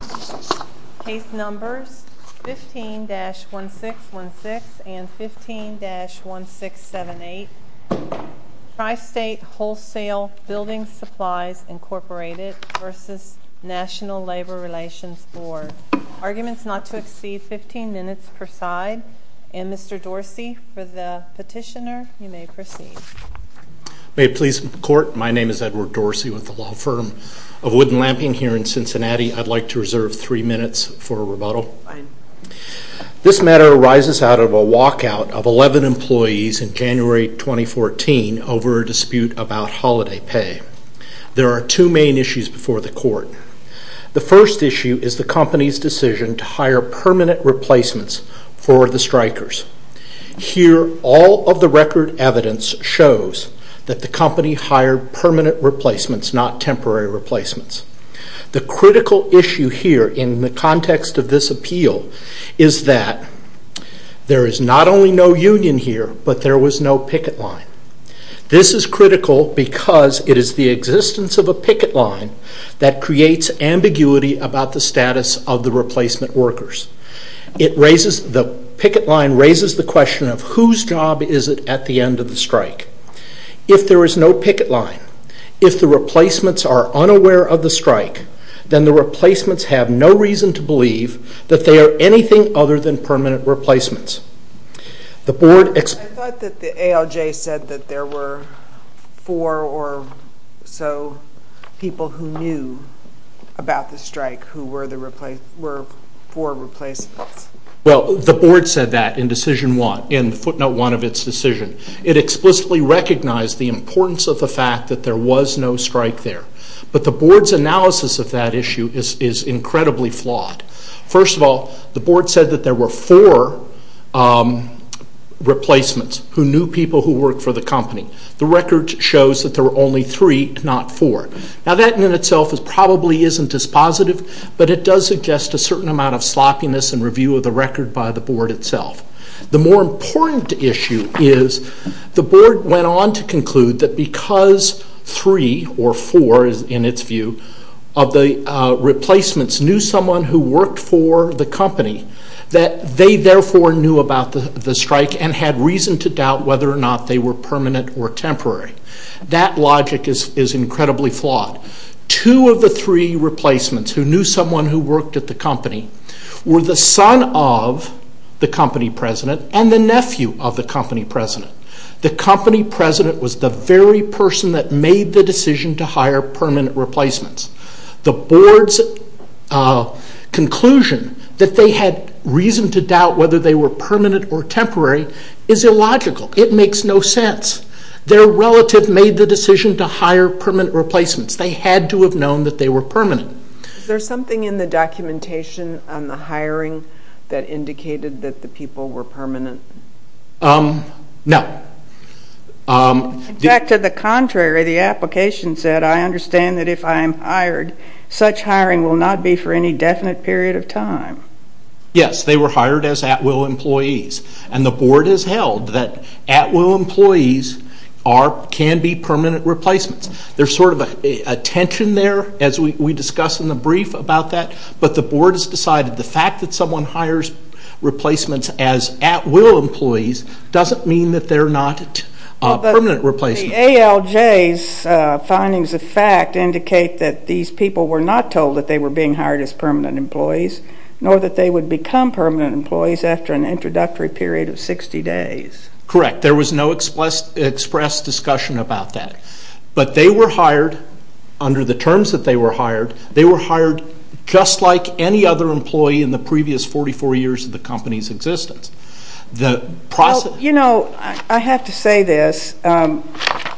Case numbers 15-1616 and 15-1678, Tri-State Wholesale Building Supplies, Incorporated v. National Labor Relations Board. Arguments not to exceed 15 minutes per side. And Mr. Dorsey, for the petitioner, you may proceed. May it please the Court, my name is Edward Dorsey with the law firm of Woodland Lamping here in Cincinnati. I'd like to reserve three minutes for rebuttal. This matter arises out of a walkout of 11 employees in January 2014 over a dispute about holiday pay. There are two main issues before the Court. The first issue is the company's decision to hire permanent replacements for the strikers. Here, all of the record evidence shows that the company hired permanent replacements, not temporary replacements. The critical issue here in the context of this appeal is that there is not only no union here, but there was no picket line. This is critical because it is the existence of a picket line that creates ambiguity about the status of the replacement workers. The picket line raises the question of whose job is it at the end of the strike. If there is no picket line, if the replacements are unaware of the strike, then the replacements have no reason to believe that they are anything other than permanent replacements. I thought that the ALJ said that there were four or so people who knew about the strike who were four replacements. Well, the Board said that in decision one, in footnote one of its decision. It explicitly recognized the importance of the fact that there was no strike there. But the Board's analysis of that issue is incredibly flawed. First of all, the Board said that there were four replacements who knew people who worked for the company. The record shows that there were only three, not four. Now that in itself probably isn't as positive, but it does suggest a certain amount of sloppiness in review of the record by the Board itself. The more important issue is the Board went on to conclude that because three or four, in its view, of the replacements knew someone who worked for the company, that they therefore knew about the strike and had reason to doubt whether or not they were permanent or temporary. That logic is incredibly flawed. Two of the three replacements who knew someone who worked at the company were the son of the company president and the nephew of the company president. The company president was the very person that made the decision to hire permanent replacements. The Board's conclusion that they had reason to doubt whether they were permanent or temporary is illogical. It makes no sense. Their relative made the decision to hire permanent replacements. They had to have known that they were permanent. Is there something in the documentation on the hiring that indicated that the people were permanent? No. In fact, to the contrary, the application said, I understand that if I am hired, such hiring will not be for any definite period of time. Yes, they were hired as at-will employees. And the Board has held that at-will employees can be permanent replacements. There's sort of a tension there, as we discussed in the brief about that, but the Board has decided the fact that someone hires replacements as at-will employees doesn't mean that they're not permanent replacements. But the ALJ's findings of fact indicate that these people were not told that they were being hired as permanent employees, nor that they would become permanent employees after an introductory period of 60 days. Correct. There was no express discussion about that. But they were hired under the terms that they were hired. They were hired just like any other employee in the previous 44 years of the company's existence. You know, I have to say this.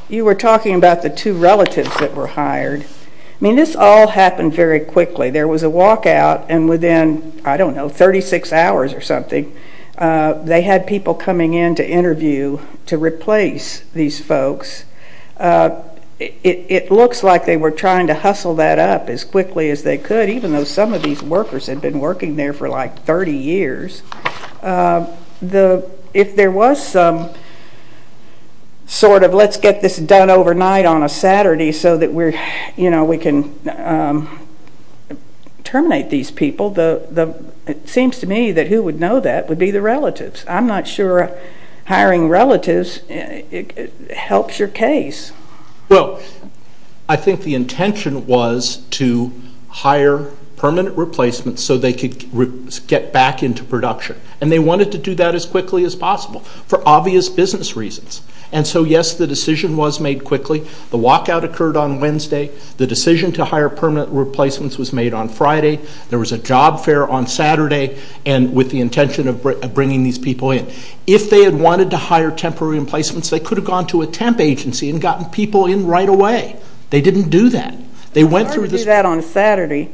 You were talking about the two relatives that were hired. I mean, this all happened very quickly. There was a walkout, and within, I don't know, 36 hours or something, they had people coming in to interview to replace these folks. It looks like they were trying to hustle that up as quickly as they could, even though some of these workers had been working there for like 30 years. If there was some sort of, let's get this done overnight on a Saturday so that we can terminate these people, it seems to me that who would know that would be the relatives. I'm not sure hiring relatives helps your case. Well, I think the intention was to hire permanent replacements so they could get back into production. And they wanted to do that as quickly as possible for obvious business reasons. And so, yes, the decision was made quickly. The walkout occurred on Wednesday. The decision to hire permanent replacements was made on Friday. There was a job fair on Saturday with the intention of bringing these people in. If they had wanted to hire temporary replacements, they could have gone to a temp agency and gotten people in right away. They didn't do that. They went through this. I heard you do that on a Saturday.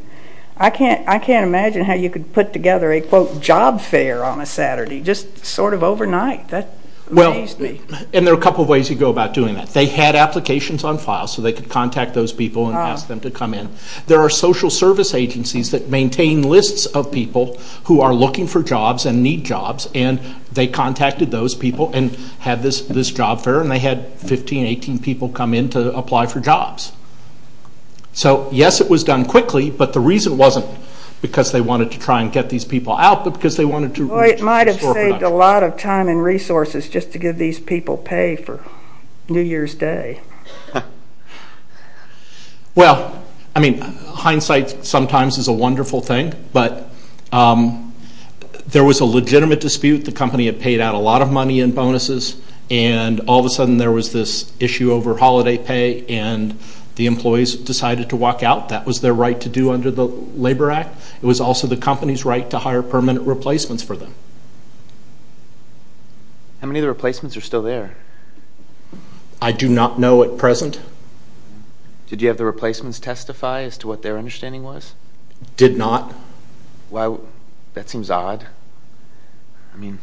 I can't imagine how you could put together a, quote, job fair on a Saturday, just sort of overnight. That amazed me. Well, and there are a couple of ways you go about doing that. They had applications on file so they could contact those people and ask them to come in. There are social service agencies that maintain lists of people who are looking for jobs and need jobs, and they contacted those people and had this job fair, and they had 15, 18 people come in to apply for jobs. So, yes, it was done quickly, but the reason wasn't because they wanted to try and get these people out, but because they wanted to restore production. Well, it might have saved a lot of time and resources just to give these people pay for New Year's Day. Well, I mean, hindsight sometimes is a wonderful thing, but there was a legitimate dispute. The company had paid out a lot of money in bonuses, and all of a sudden there was this issue over holiday pay, and the employees decided to walk out. That was their right to do under the Labor Act. It was also the company's right to hire permanent replacements for them. How many of the replacements are still there? I do not know at present. Did you have the replacements testify as to what their understanding was? Did not. Well, that seems odd. I mean,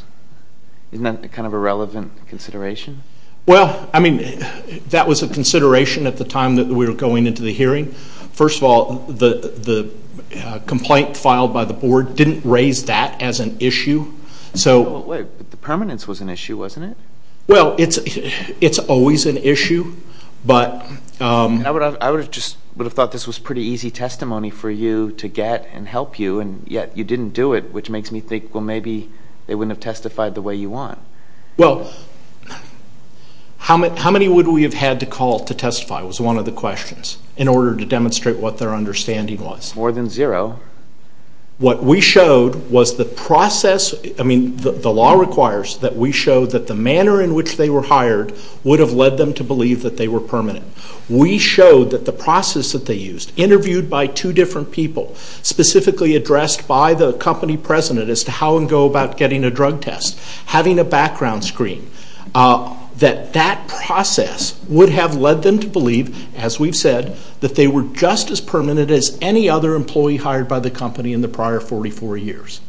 isn't that kind of a relevant consideration? Well, I mean, that was a consideration at the time that we were going into the hearing. First of all, the complaint filed by the board didn't raise that as an issue. But the permanence was an issue, wasn't it? Well, it's always an issue. I would have thought this was pretty easy testimony for you to get and help you, and yet you didn't do it, which makes me think, well, maybe they wouldn't have testified the way you want. Well, how many would we have had to call to testify was one of the questions in order to demonstrate what their understanding was? More than zero. What we showed was the process. I mean, the law requires that we show that the manner in which they were hired would have led them to believe that they were permanent. We showed that the process that they used, interviewed by two different people, specifically addressed by the company president as to how and go about getting a drug test, having a background screen, that that process would have led them to believe, as we've said, that they were just as permanent as any other employee hired by the company in the prior 44 years.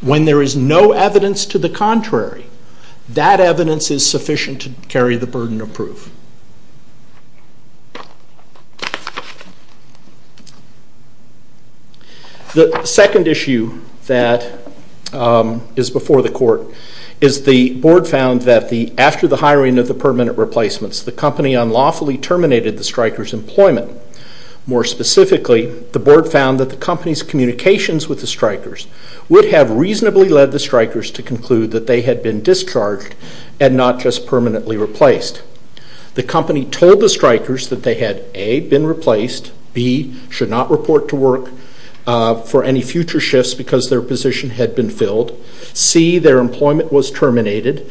When there is no evidence to the contrary, that evidence is sufficient to carry the burden of proof. The second issue that is before the court is the board found that after the hiring of the permanent replacements, the company unlawfully terminated the striker's employment. More specifically, the board found that the company's communications with the strikers would have reasonably led the strikers to conclude that they had been discharged and not just permanently replaced. The company told the strikers that they had, A, been replaced, B, should not report to work for any future shifts because their position had been filled, C, their employment was terminated,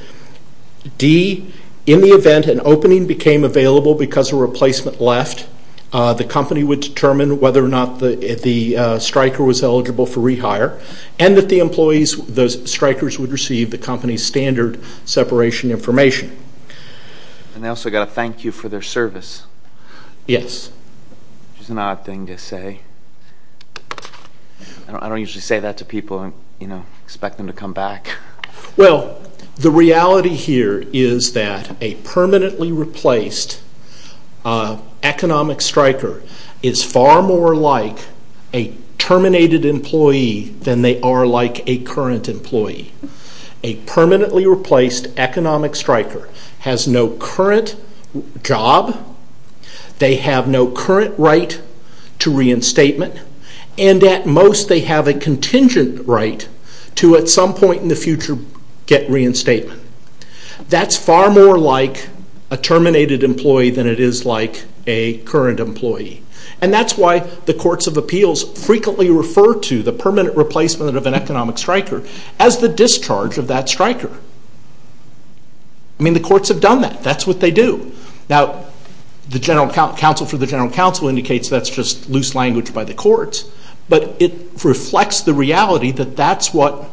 D, in the event an opening became available because a replacement left, the company would determine whether or not the striker was eligible for rehire and that the employees, those strikers, would receive the company's standard separation information. And they also got a thank you for their service. Yes. Which is an odd thing to say. I don't usually say that to people and expect them to come back. Well, the reality here is that a permanently replaced economic striker is far more like a terminated employee than they are like a current employee. A permanently replaced economic striker has no current job, they have no current right to reinstatement, and at most they have a contingent right to, at some point in the future, get reinstatement. That's far more like a terminated employee than it is like a current employee. And that's why the courts of appeals frequently refer to the permanent replacement of an economic striker as the discharge of that striker. I mean, the courts have done that. That's what they do. Now, the counsel for the general counsel indicates that's just loose language by the courts, but it reflects the reality that that's what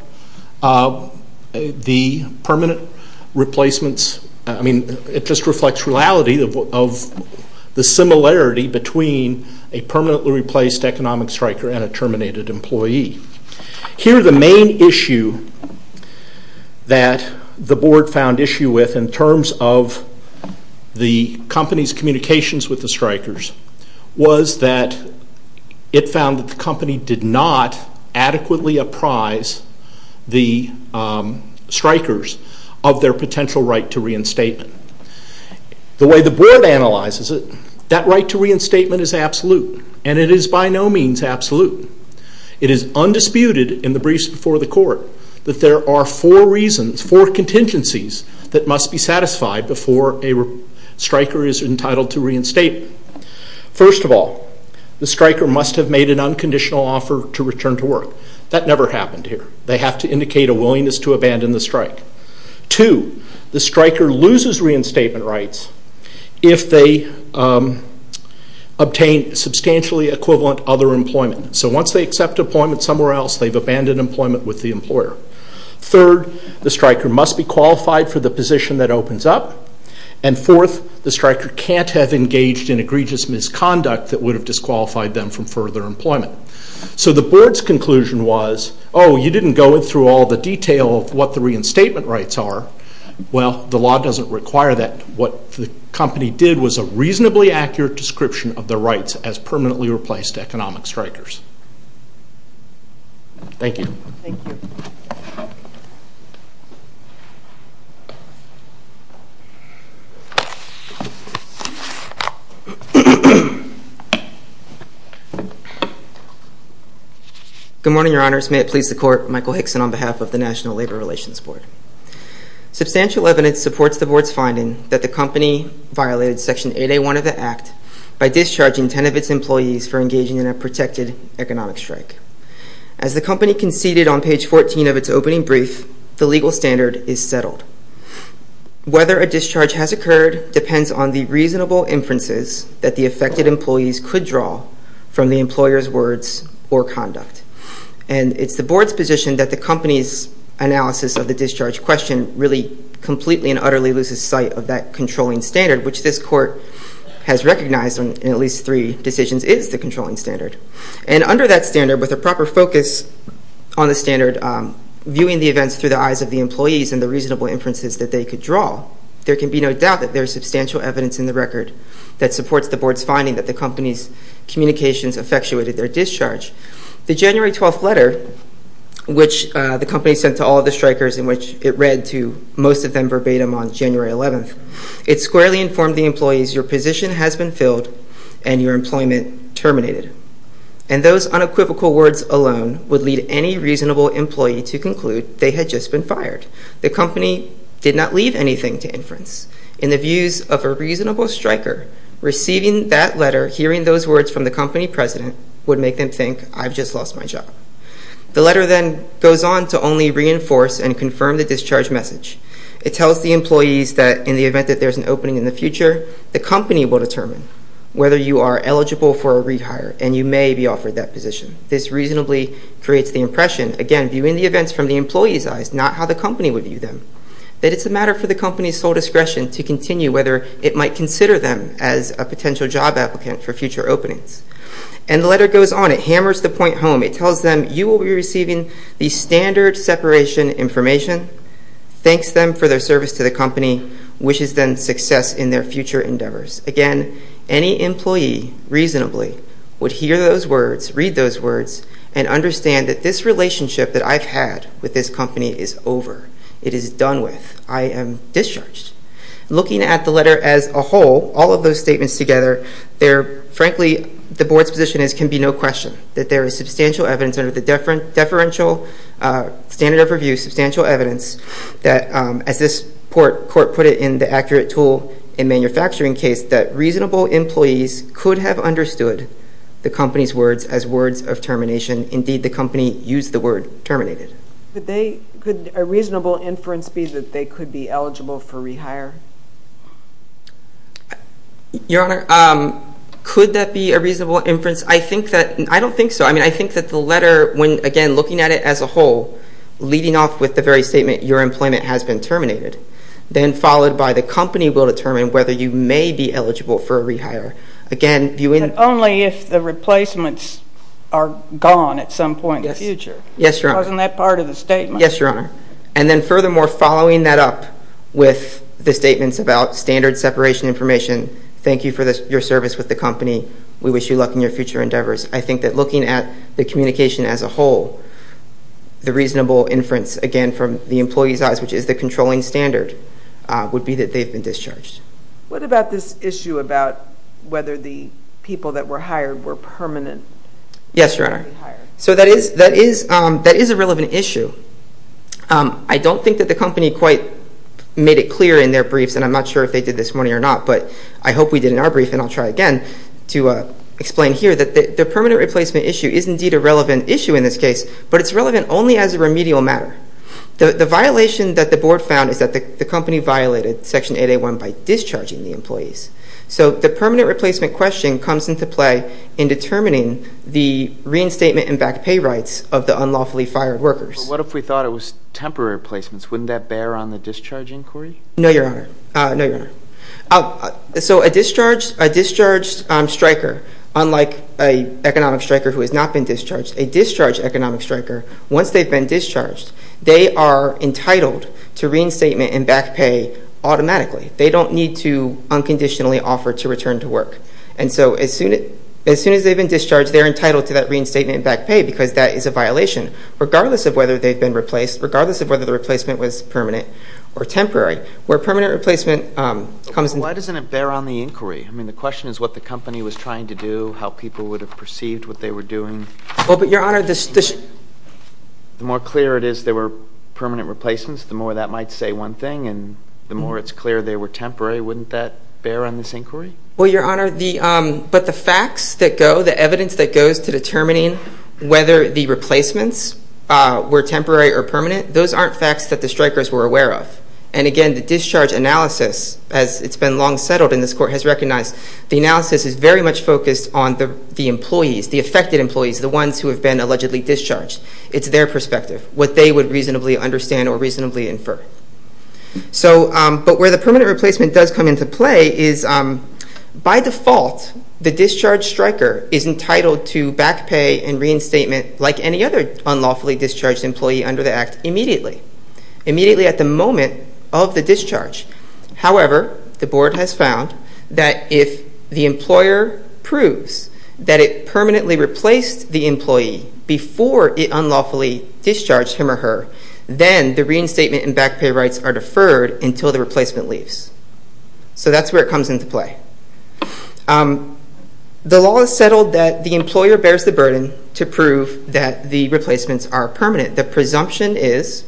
the permanent replacements, I mean, it just reflects the reality of the similarity between a permanently replaced economic striker and a terminated employee. Here, the main issue that the board found issue with in terms of the company's communications with the strikers was that it found that the company did not adequately apprise the strikers of their potential right to reinstatement. The way the board analyzes it, that right to reinstatement is absolute, and it is by no means absolute. It is undisputed in the briefs before the court that there are four reasons, four contingencies, that must be satisfied before a striker is entitled to reinstatement. First of all, the striker must have made an unconditional offer to return to work. That never happened here. They have to indicate a willingness to abandon the strike. Two, the striker loses reinstatement rights if they obtain substantially equivalent other employment. So once they accept employment somewhere else, they've abandoned employment with the employer. Third, the striker must be qualified for the position that opens up. And fourth, the striker can't have engaged in egregious misconduct that would have disqualified them from further employment. So the board's conclusion was, oh, you didn't go through all the detail of what the reinstatement rights are. Well, the law doesn't require that. What the company did was a reasonably accurate description of the rights as permanently replaced economic strikers. Thank you. Thank you. Good morning, Your Honors. May it please the Court, Michael Hickson on behalf of the National Labor Relations Board. Substantial evidence supports the board's finding that the company violated Section 8A1 of the Act by discharging 10 of its employees for engaging in a protected economic strike. As the company conceded on page 14 of its opening brief, the legal standard is settled. Whether a discharge has occurred depends on the reasonable inferences that the affected employees could draw from the employer's words or conduct. And it's the board's position that the company's analysis of the discharge question really completely and utterly loses sight of that controlling standard, which this Court has recognized in at least three decisions is the controlling standard. And under that standard, with a proper focus on the standard, viewing the events through the eyes of the employees and the reasonable inferences that they could draw, there can be no doubt that there is substantial evidence in the record that supports the board's finding that the company's communications effectuated their discharge. The January 12th letter, which the company sent to all of the strikers in which it read to most of them verbatim on January 11th, it squarely informed the employees your position has been filled and your employment terminated. And those unequivocal words alone would lead any reasonable employee to conclude they had just been fired. The company did not leave anything to inference. In the views of a reasonable striker, receiving that letter, hearing those words from the company president, would make them think, I've just lost my job. The letter then goes on to only reinforce and confirm the discharge message. It tells the employees that in the event that there's an opening in the future, the company will determine whether you are eligible for a rehire and you may be offered that position. This reasonably creates the impression, again, viewing the events from the employees' eyes, not how the company would view them, that it's a matter for the company's sole discretion to continue whether it might consider them as a potential job applicant for future openings. And the letter goes on. It hammers the point home. It tells them you will be receiving the standard separation information and thanks them for their service to the company, wishes them success in their future endeavors. Again, any employee, reasonably, would hear those words, read those words, and understand that this relationship that I've had with this company is over. It is done with. I am discharged. Looking at the letter as a whole, all of those statements together, frankly, the board's position is it can be no question that there is substantial evidence under the deferential standard of review, substantial evidence that, as this court put it in the accurate tool in manufacturing case, that reasonable employees could have understood the company's words as words of termination. Indeed, the company used the word terminated. Could a reasonable inference be that they could be eligible for rehire? Your Honor, could that be a reasonable inference? I don't think so. I think that the letter, when, again, looking at it as a whole, leading off with the very statement, your employment has been terminated, then followed by the company will determine whether you may be eligible for a rehire. Again, viewing... But only if the replacements are gone at some point in the future. Yes, Your Honor. Wasn't that part of the statement? Yes, Your Honor. And then furthermore, following that up with the statements about standard separation information, thank you for your service with the company. We wish you luck in your future endeavors. I think that looking at the communication as a whole, the reasonable inference, again, from the employee's eyes, which is the controlling standard, would be that they've been discharged. What about this issue about whether the people that were hired were permanent? Yes, Your Honor. So that is a relevant issue. I don't think that the company quite made it clear in their briefs, and I'm not sure if they did this morning or not, but I hope we did in our brief, and I'll try again to explain here that the permanent replacement issue is indeed a relevant issue in this case, but it's relevant only as a remedial matter. The violation that the Board found is that the company violated Section 8A1 by discharging the employees. So the permanent replacement question comes into play in determining the reinstatement and back pay rights of the unlawfully fired workers. But what if we thought it was temporary replacements? Wouldn't that bear on the discharge inquiry? No, Your Honor. So a discharged striker, unlike an economic striker who has not been discharged, a discharged economic striker, once they've been discharged, they are entitled to reinstatement and back pay automatically. They don't need to unconditionally offer to return to work. And so as soon as they've been discharged, they're entitled to that reinstatement and back pay or temporary, where permanent replacement comes into play. Why doesn't it bear on the inquiry? I mean, the question is what the company was trying to do, how people would have perceived what they were doing. Well, but, Your Honor, the more clear it is they were permanent replacements, the more that might say one thing, and the more it's clear they were temporary, wouldn't that bear on this inquiry? Well, Your Honor, but the facts that go, the evidence that goes to determining whether the replacements were temporary or permanent, those aren't facts that the strikers were aware of. And, again, the discharge analysis, as it's been long settled and this Court has recognized, the analysis is very much focused on the employees, the affected employees, the ones who have been allegedly discharged. It's their perspective, what they would reasonably understand or reasonably infer. But where the permanent replacement does come into play is, by default, the discharged striker is entitled to back pay and reinstatement, like any other unlawfully discharged employee under the Act, immediately. Immediately at the moment of the discharge. However, the Board has found that if the employer proves that it permanently replaced the employee before it unlawfully discharged him or her, then the reinstatement and back pay rights are deferred until the replacement leaves. So that's where it comes into play. The law is settled that the employer bears the burden to prove that the replacements are permanent. The presumption is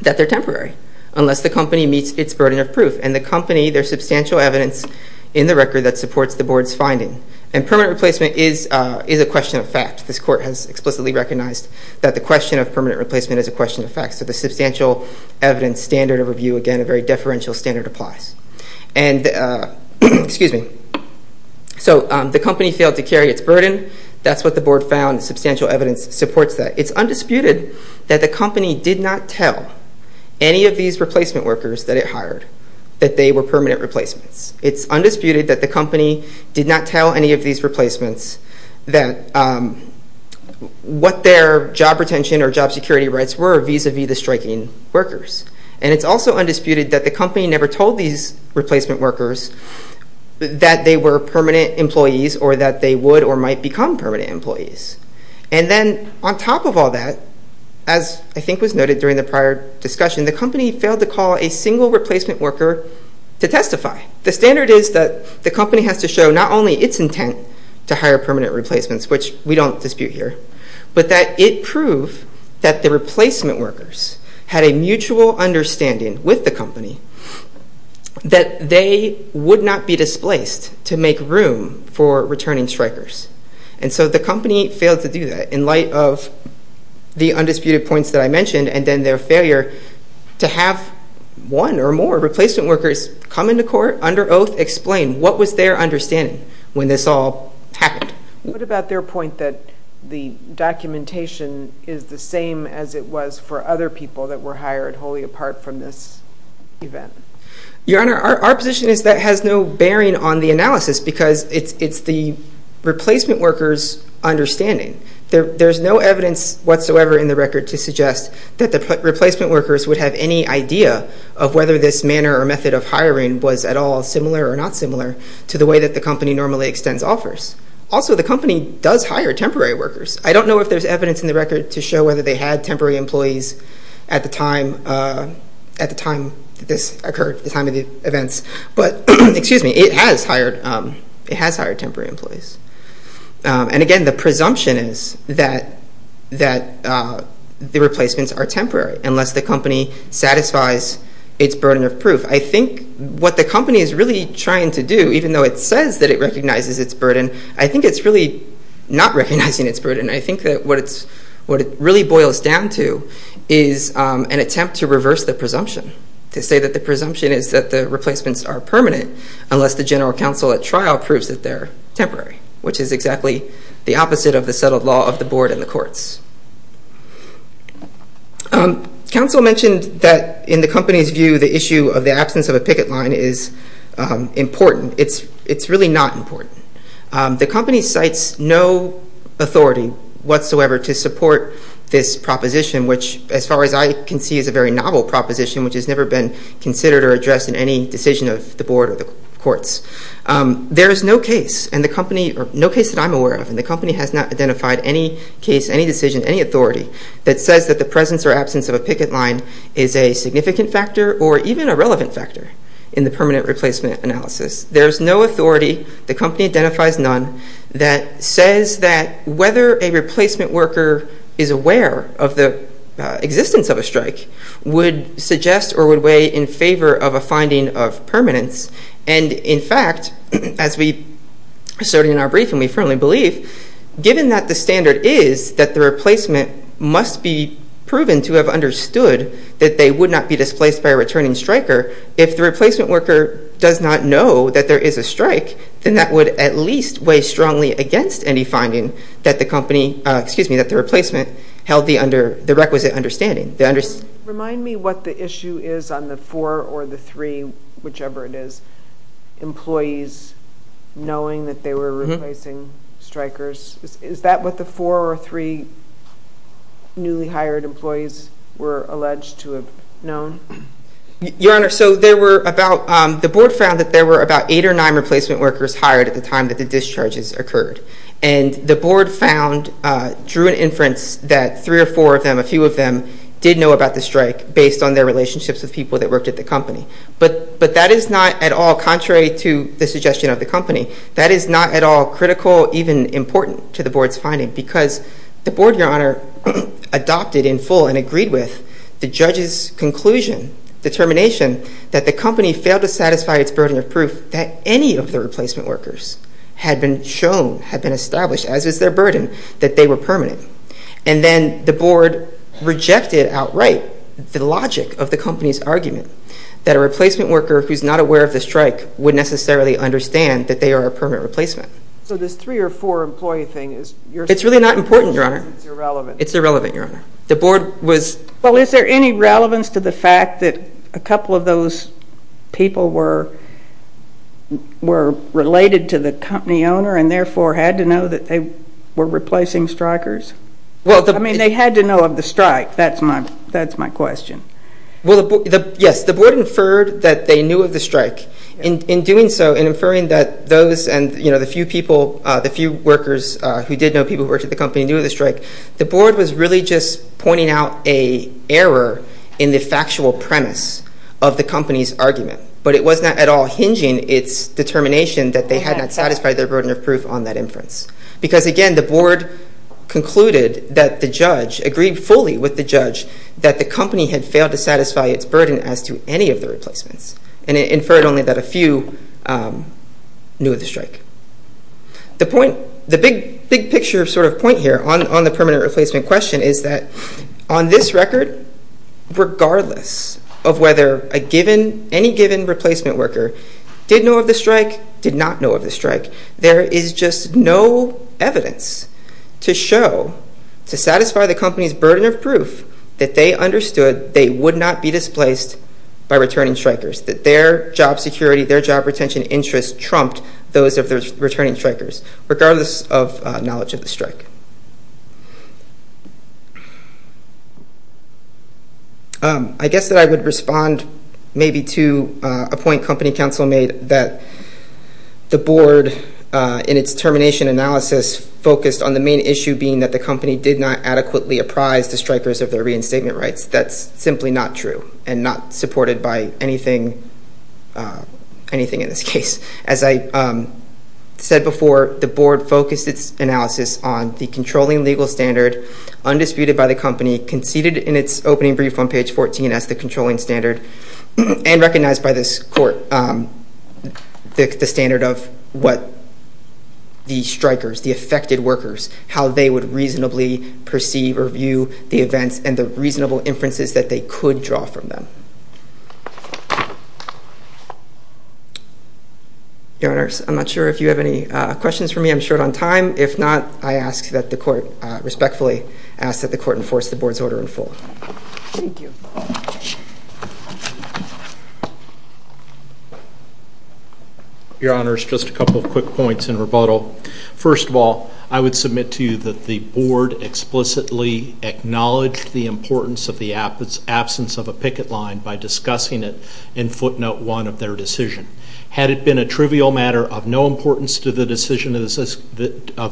that they're temporary, unless the company meets its burden of proof. And the company, there's substantial evidence in the record that supports the Board's finding. And permanent replacement is a question of fact. This Court has explicitly recognized that the question of permanent replacement is a question of fact. So the substantial evidence standard of review, again, a very deferential standard applies. Excuse me. So the company failed to carry its burden. That's what the Board found. Substantial evidence supports that. It's undisputed that the company did not tell any of these replacement workers that it hired that they were permanent replacements. It's undisputed that the company did not tell any of these replacements what their job retention or job security rights were vis-a-vis the striking workers. And it's also undisputed that the company never told these replacement workers that they were permanent employees or that they would or might become permanent employees. And then on top of all that, as I think was noted during the prior discussion, the company failed to call a single replacement worker to testify. The standard is that the company has to show not only its intent to hire permanent replacements, which we don't dispute here, but that it proved that the replacement workers had a mutual understanding with the company that they would not be displaced to make room for returning strikers. And so the company failed to do that in light of the undisputed points that I mentioned and then their failure to have one or more replacement workers come into court under oath, explain what was their understanding when this all happened. What about their point that the documentation is the same as it was for other people that were hired wholly apart from this event? Your Honor, our position is that has no bearing on the analysis because it's the replacement workers' understanding. There's no evidence whatsoever in the record to suggest that the replacement workers would have any idea of whether this manner or method of hiring was at all similar or not similar to the way that the company normally extends offers. Also, the company does hire temporary workers. I don't know if there's evidence in the record to show whether they had temporary employees at the time that this occurred, the time of the events. But, excuse me, it has hired temporary employees. And again, the presumption is that the replacements are temporary unless the company satisfies its burden of proof. I think what the company is really trying to do, even though it says that it recognizes its burden, I think it's really not recognizing its burden. I think that what it really boils down to is an attempt to reverse the presumption, to say that the presumption is that the replacements are permanent unless the general counsel at trial proves that they're temporary, which is exactly the opposite of the settled law of the board and the courts. Counsel mentioned that, in the company's view, the issue of the absence of a picket line is important. It's really not important. The company cites no authority whatsoever to support this proposition, which, as far as I can see, is a very novel proposition, which has never been considered or addressed in any decision of the board or the courts. There is no case, no case that I'm aware of, and the company has not identified any case, any decision, any authority that says that the presence or absence of a picket line is a significant factor or even a relevant factor in the permanent replacement analysis. There is no authority, the company identifies none, that says that whether a replacement worker is aware of the existence of a strike would suggest or would weigh in favor of a finding of permanence. And, in fact, as we asserted in our briefing, we firmly believe, given that the standard is that the replacement must be proven to have understood that they would not be displaced by a returning striker, if the replacement worker does not know that there is a strike, then that would at least weigh strongly against any finding that the company, excuse me, that the replacement held the requisite understanding. Remind me what the issue is on the four or the three, whichever it is, employees knowing that they were replacing strikers. Is that what the four or three newly hired employees were alleged to have known? Your Honor, so there were about, the board found that there were about eight or nine replacement workers hired at the time that the discharges occurred. And the board found, drew an inference that three or four of them, a few of them, did know about the strike based on their relationships with people that worked at the company. But that is not at all, contrary to the suggestion of the company, that is not at all critical, even important, to the board's finding because the board, Your Honor, adopted in full and agreed with the judge's conclusion, determination that the company failed to satisfy its burden of proof that any of the replacement workers had been shown, had been established, as was their burden, that they were permanent. And then the board rejected outright the logic of the company's argument that a replacement worker who is not aware of the strike would necessarily understand that they are a permanent replacement. So this three or four employee thing is... It's really not important, Your Honor. It's irrelevant. It's irrelevant, Your Honor. The board was... Well, is there any relevance to the fact that a couple of those people were related to the company owner and therefore had to know that they were replacing strikers? I mean, they had to know of the strike. That's my question. Well, yes, the board inferred that they knew of the strike. In doing so, in inferring that those and the few people, the few workers who did know people who worked at the company knew of the strike, the board was really just pointing out an error in the factual premise of the company's argument. But it was not at all hinging its determination that they had not satisfied their burden of proof on that inference. Because, again, the board concluded that the judge, agreed fully with the judge, that the company had failed to satisfy its burden as to any of the replacements. And it inferred only that a few knew of the strike. The big picture sort of point here on the permanent replacement question is that on this record, regardless of whether any given replacement worker did know of the strike, did not know of the strike, there is just no evidence to show, to satisfy the company's burden of proof, that they understood they would not be displaced by returning strikers, that their job security, their job retention interests trumped those of the returning strikers, regardless of knowledge of the strike. I guess that I would respond maybe to a point company counsel made, that the board, in its termination analysis, focused on the main issue being that the company did not adequately apprise the strikers of their reinstatement rights. That's simply not true and not supported by anything in this case. As I said before, the board focused its analysis on the controlling legal standard undisputed by the company, conceded in its opening brief on page 14 as the controlling standard, and recognized by this court the standard of what the strikers, the affected workers, how they would reasonably perceive or view the events and the reasonable inferences that they could draw from them. Your Honors, I'm not sure if you have any questions for me. I'm short on time. If not, I respectfully ask that the court enforce the board's order in full. Thank you. Your Honors, just a couple of quick points in rebuttal. First of all, I would submit to you that the board explicitly acknowledged the importance of the absence of a picket line by discussing it in footnote one of their decision. Had it been a trivial matter of no importance to the decision of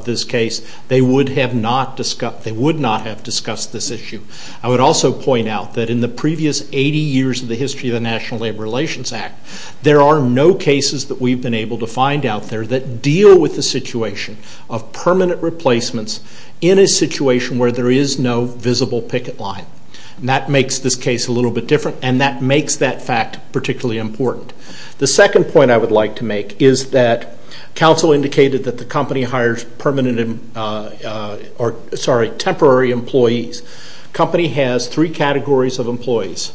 this case, they would not have discussed this issue. I would also point out that in the previous 80 years of the history of the National Labor Relations Act, there are no cases that we've been able to find out there that deal with the situation of permanent replacements in a situation where there is no visible picket line. That makes this case a little bit different and that makes that fact particularly important. The second point I would like to make is that counsel indicated that the company hires temporary employees. The company has three categories of employees,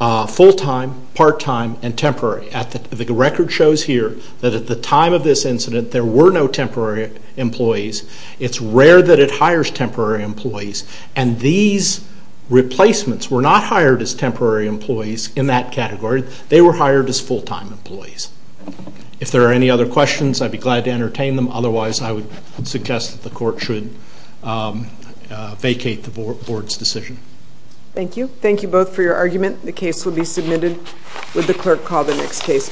full-time, part-time, and temporary. The record shows here that at the time of this incident, there were no temporary employees. It's rare that it hires temporary employees. These replacements were not hired as temporary employees in that category. They were hired as full-time employees. If there are any other questions, I'd be glad to entertain them. Otherwise, I would suggest that the court should vacate the board's decision. Thank you. Thank you both for your argument. The case will be submitted. Would the clerk call the next case, please?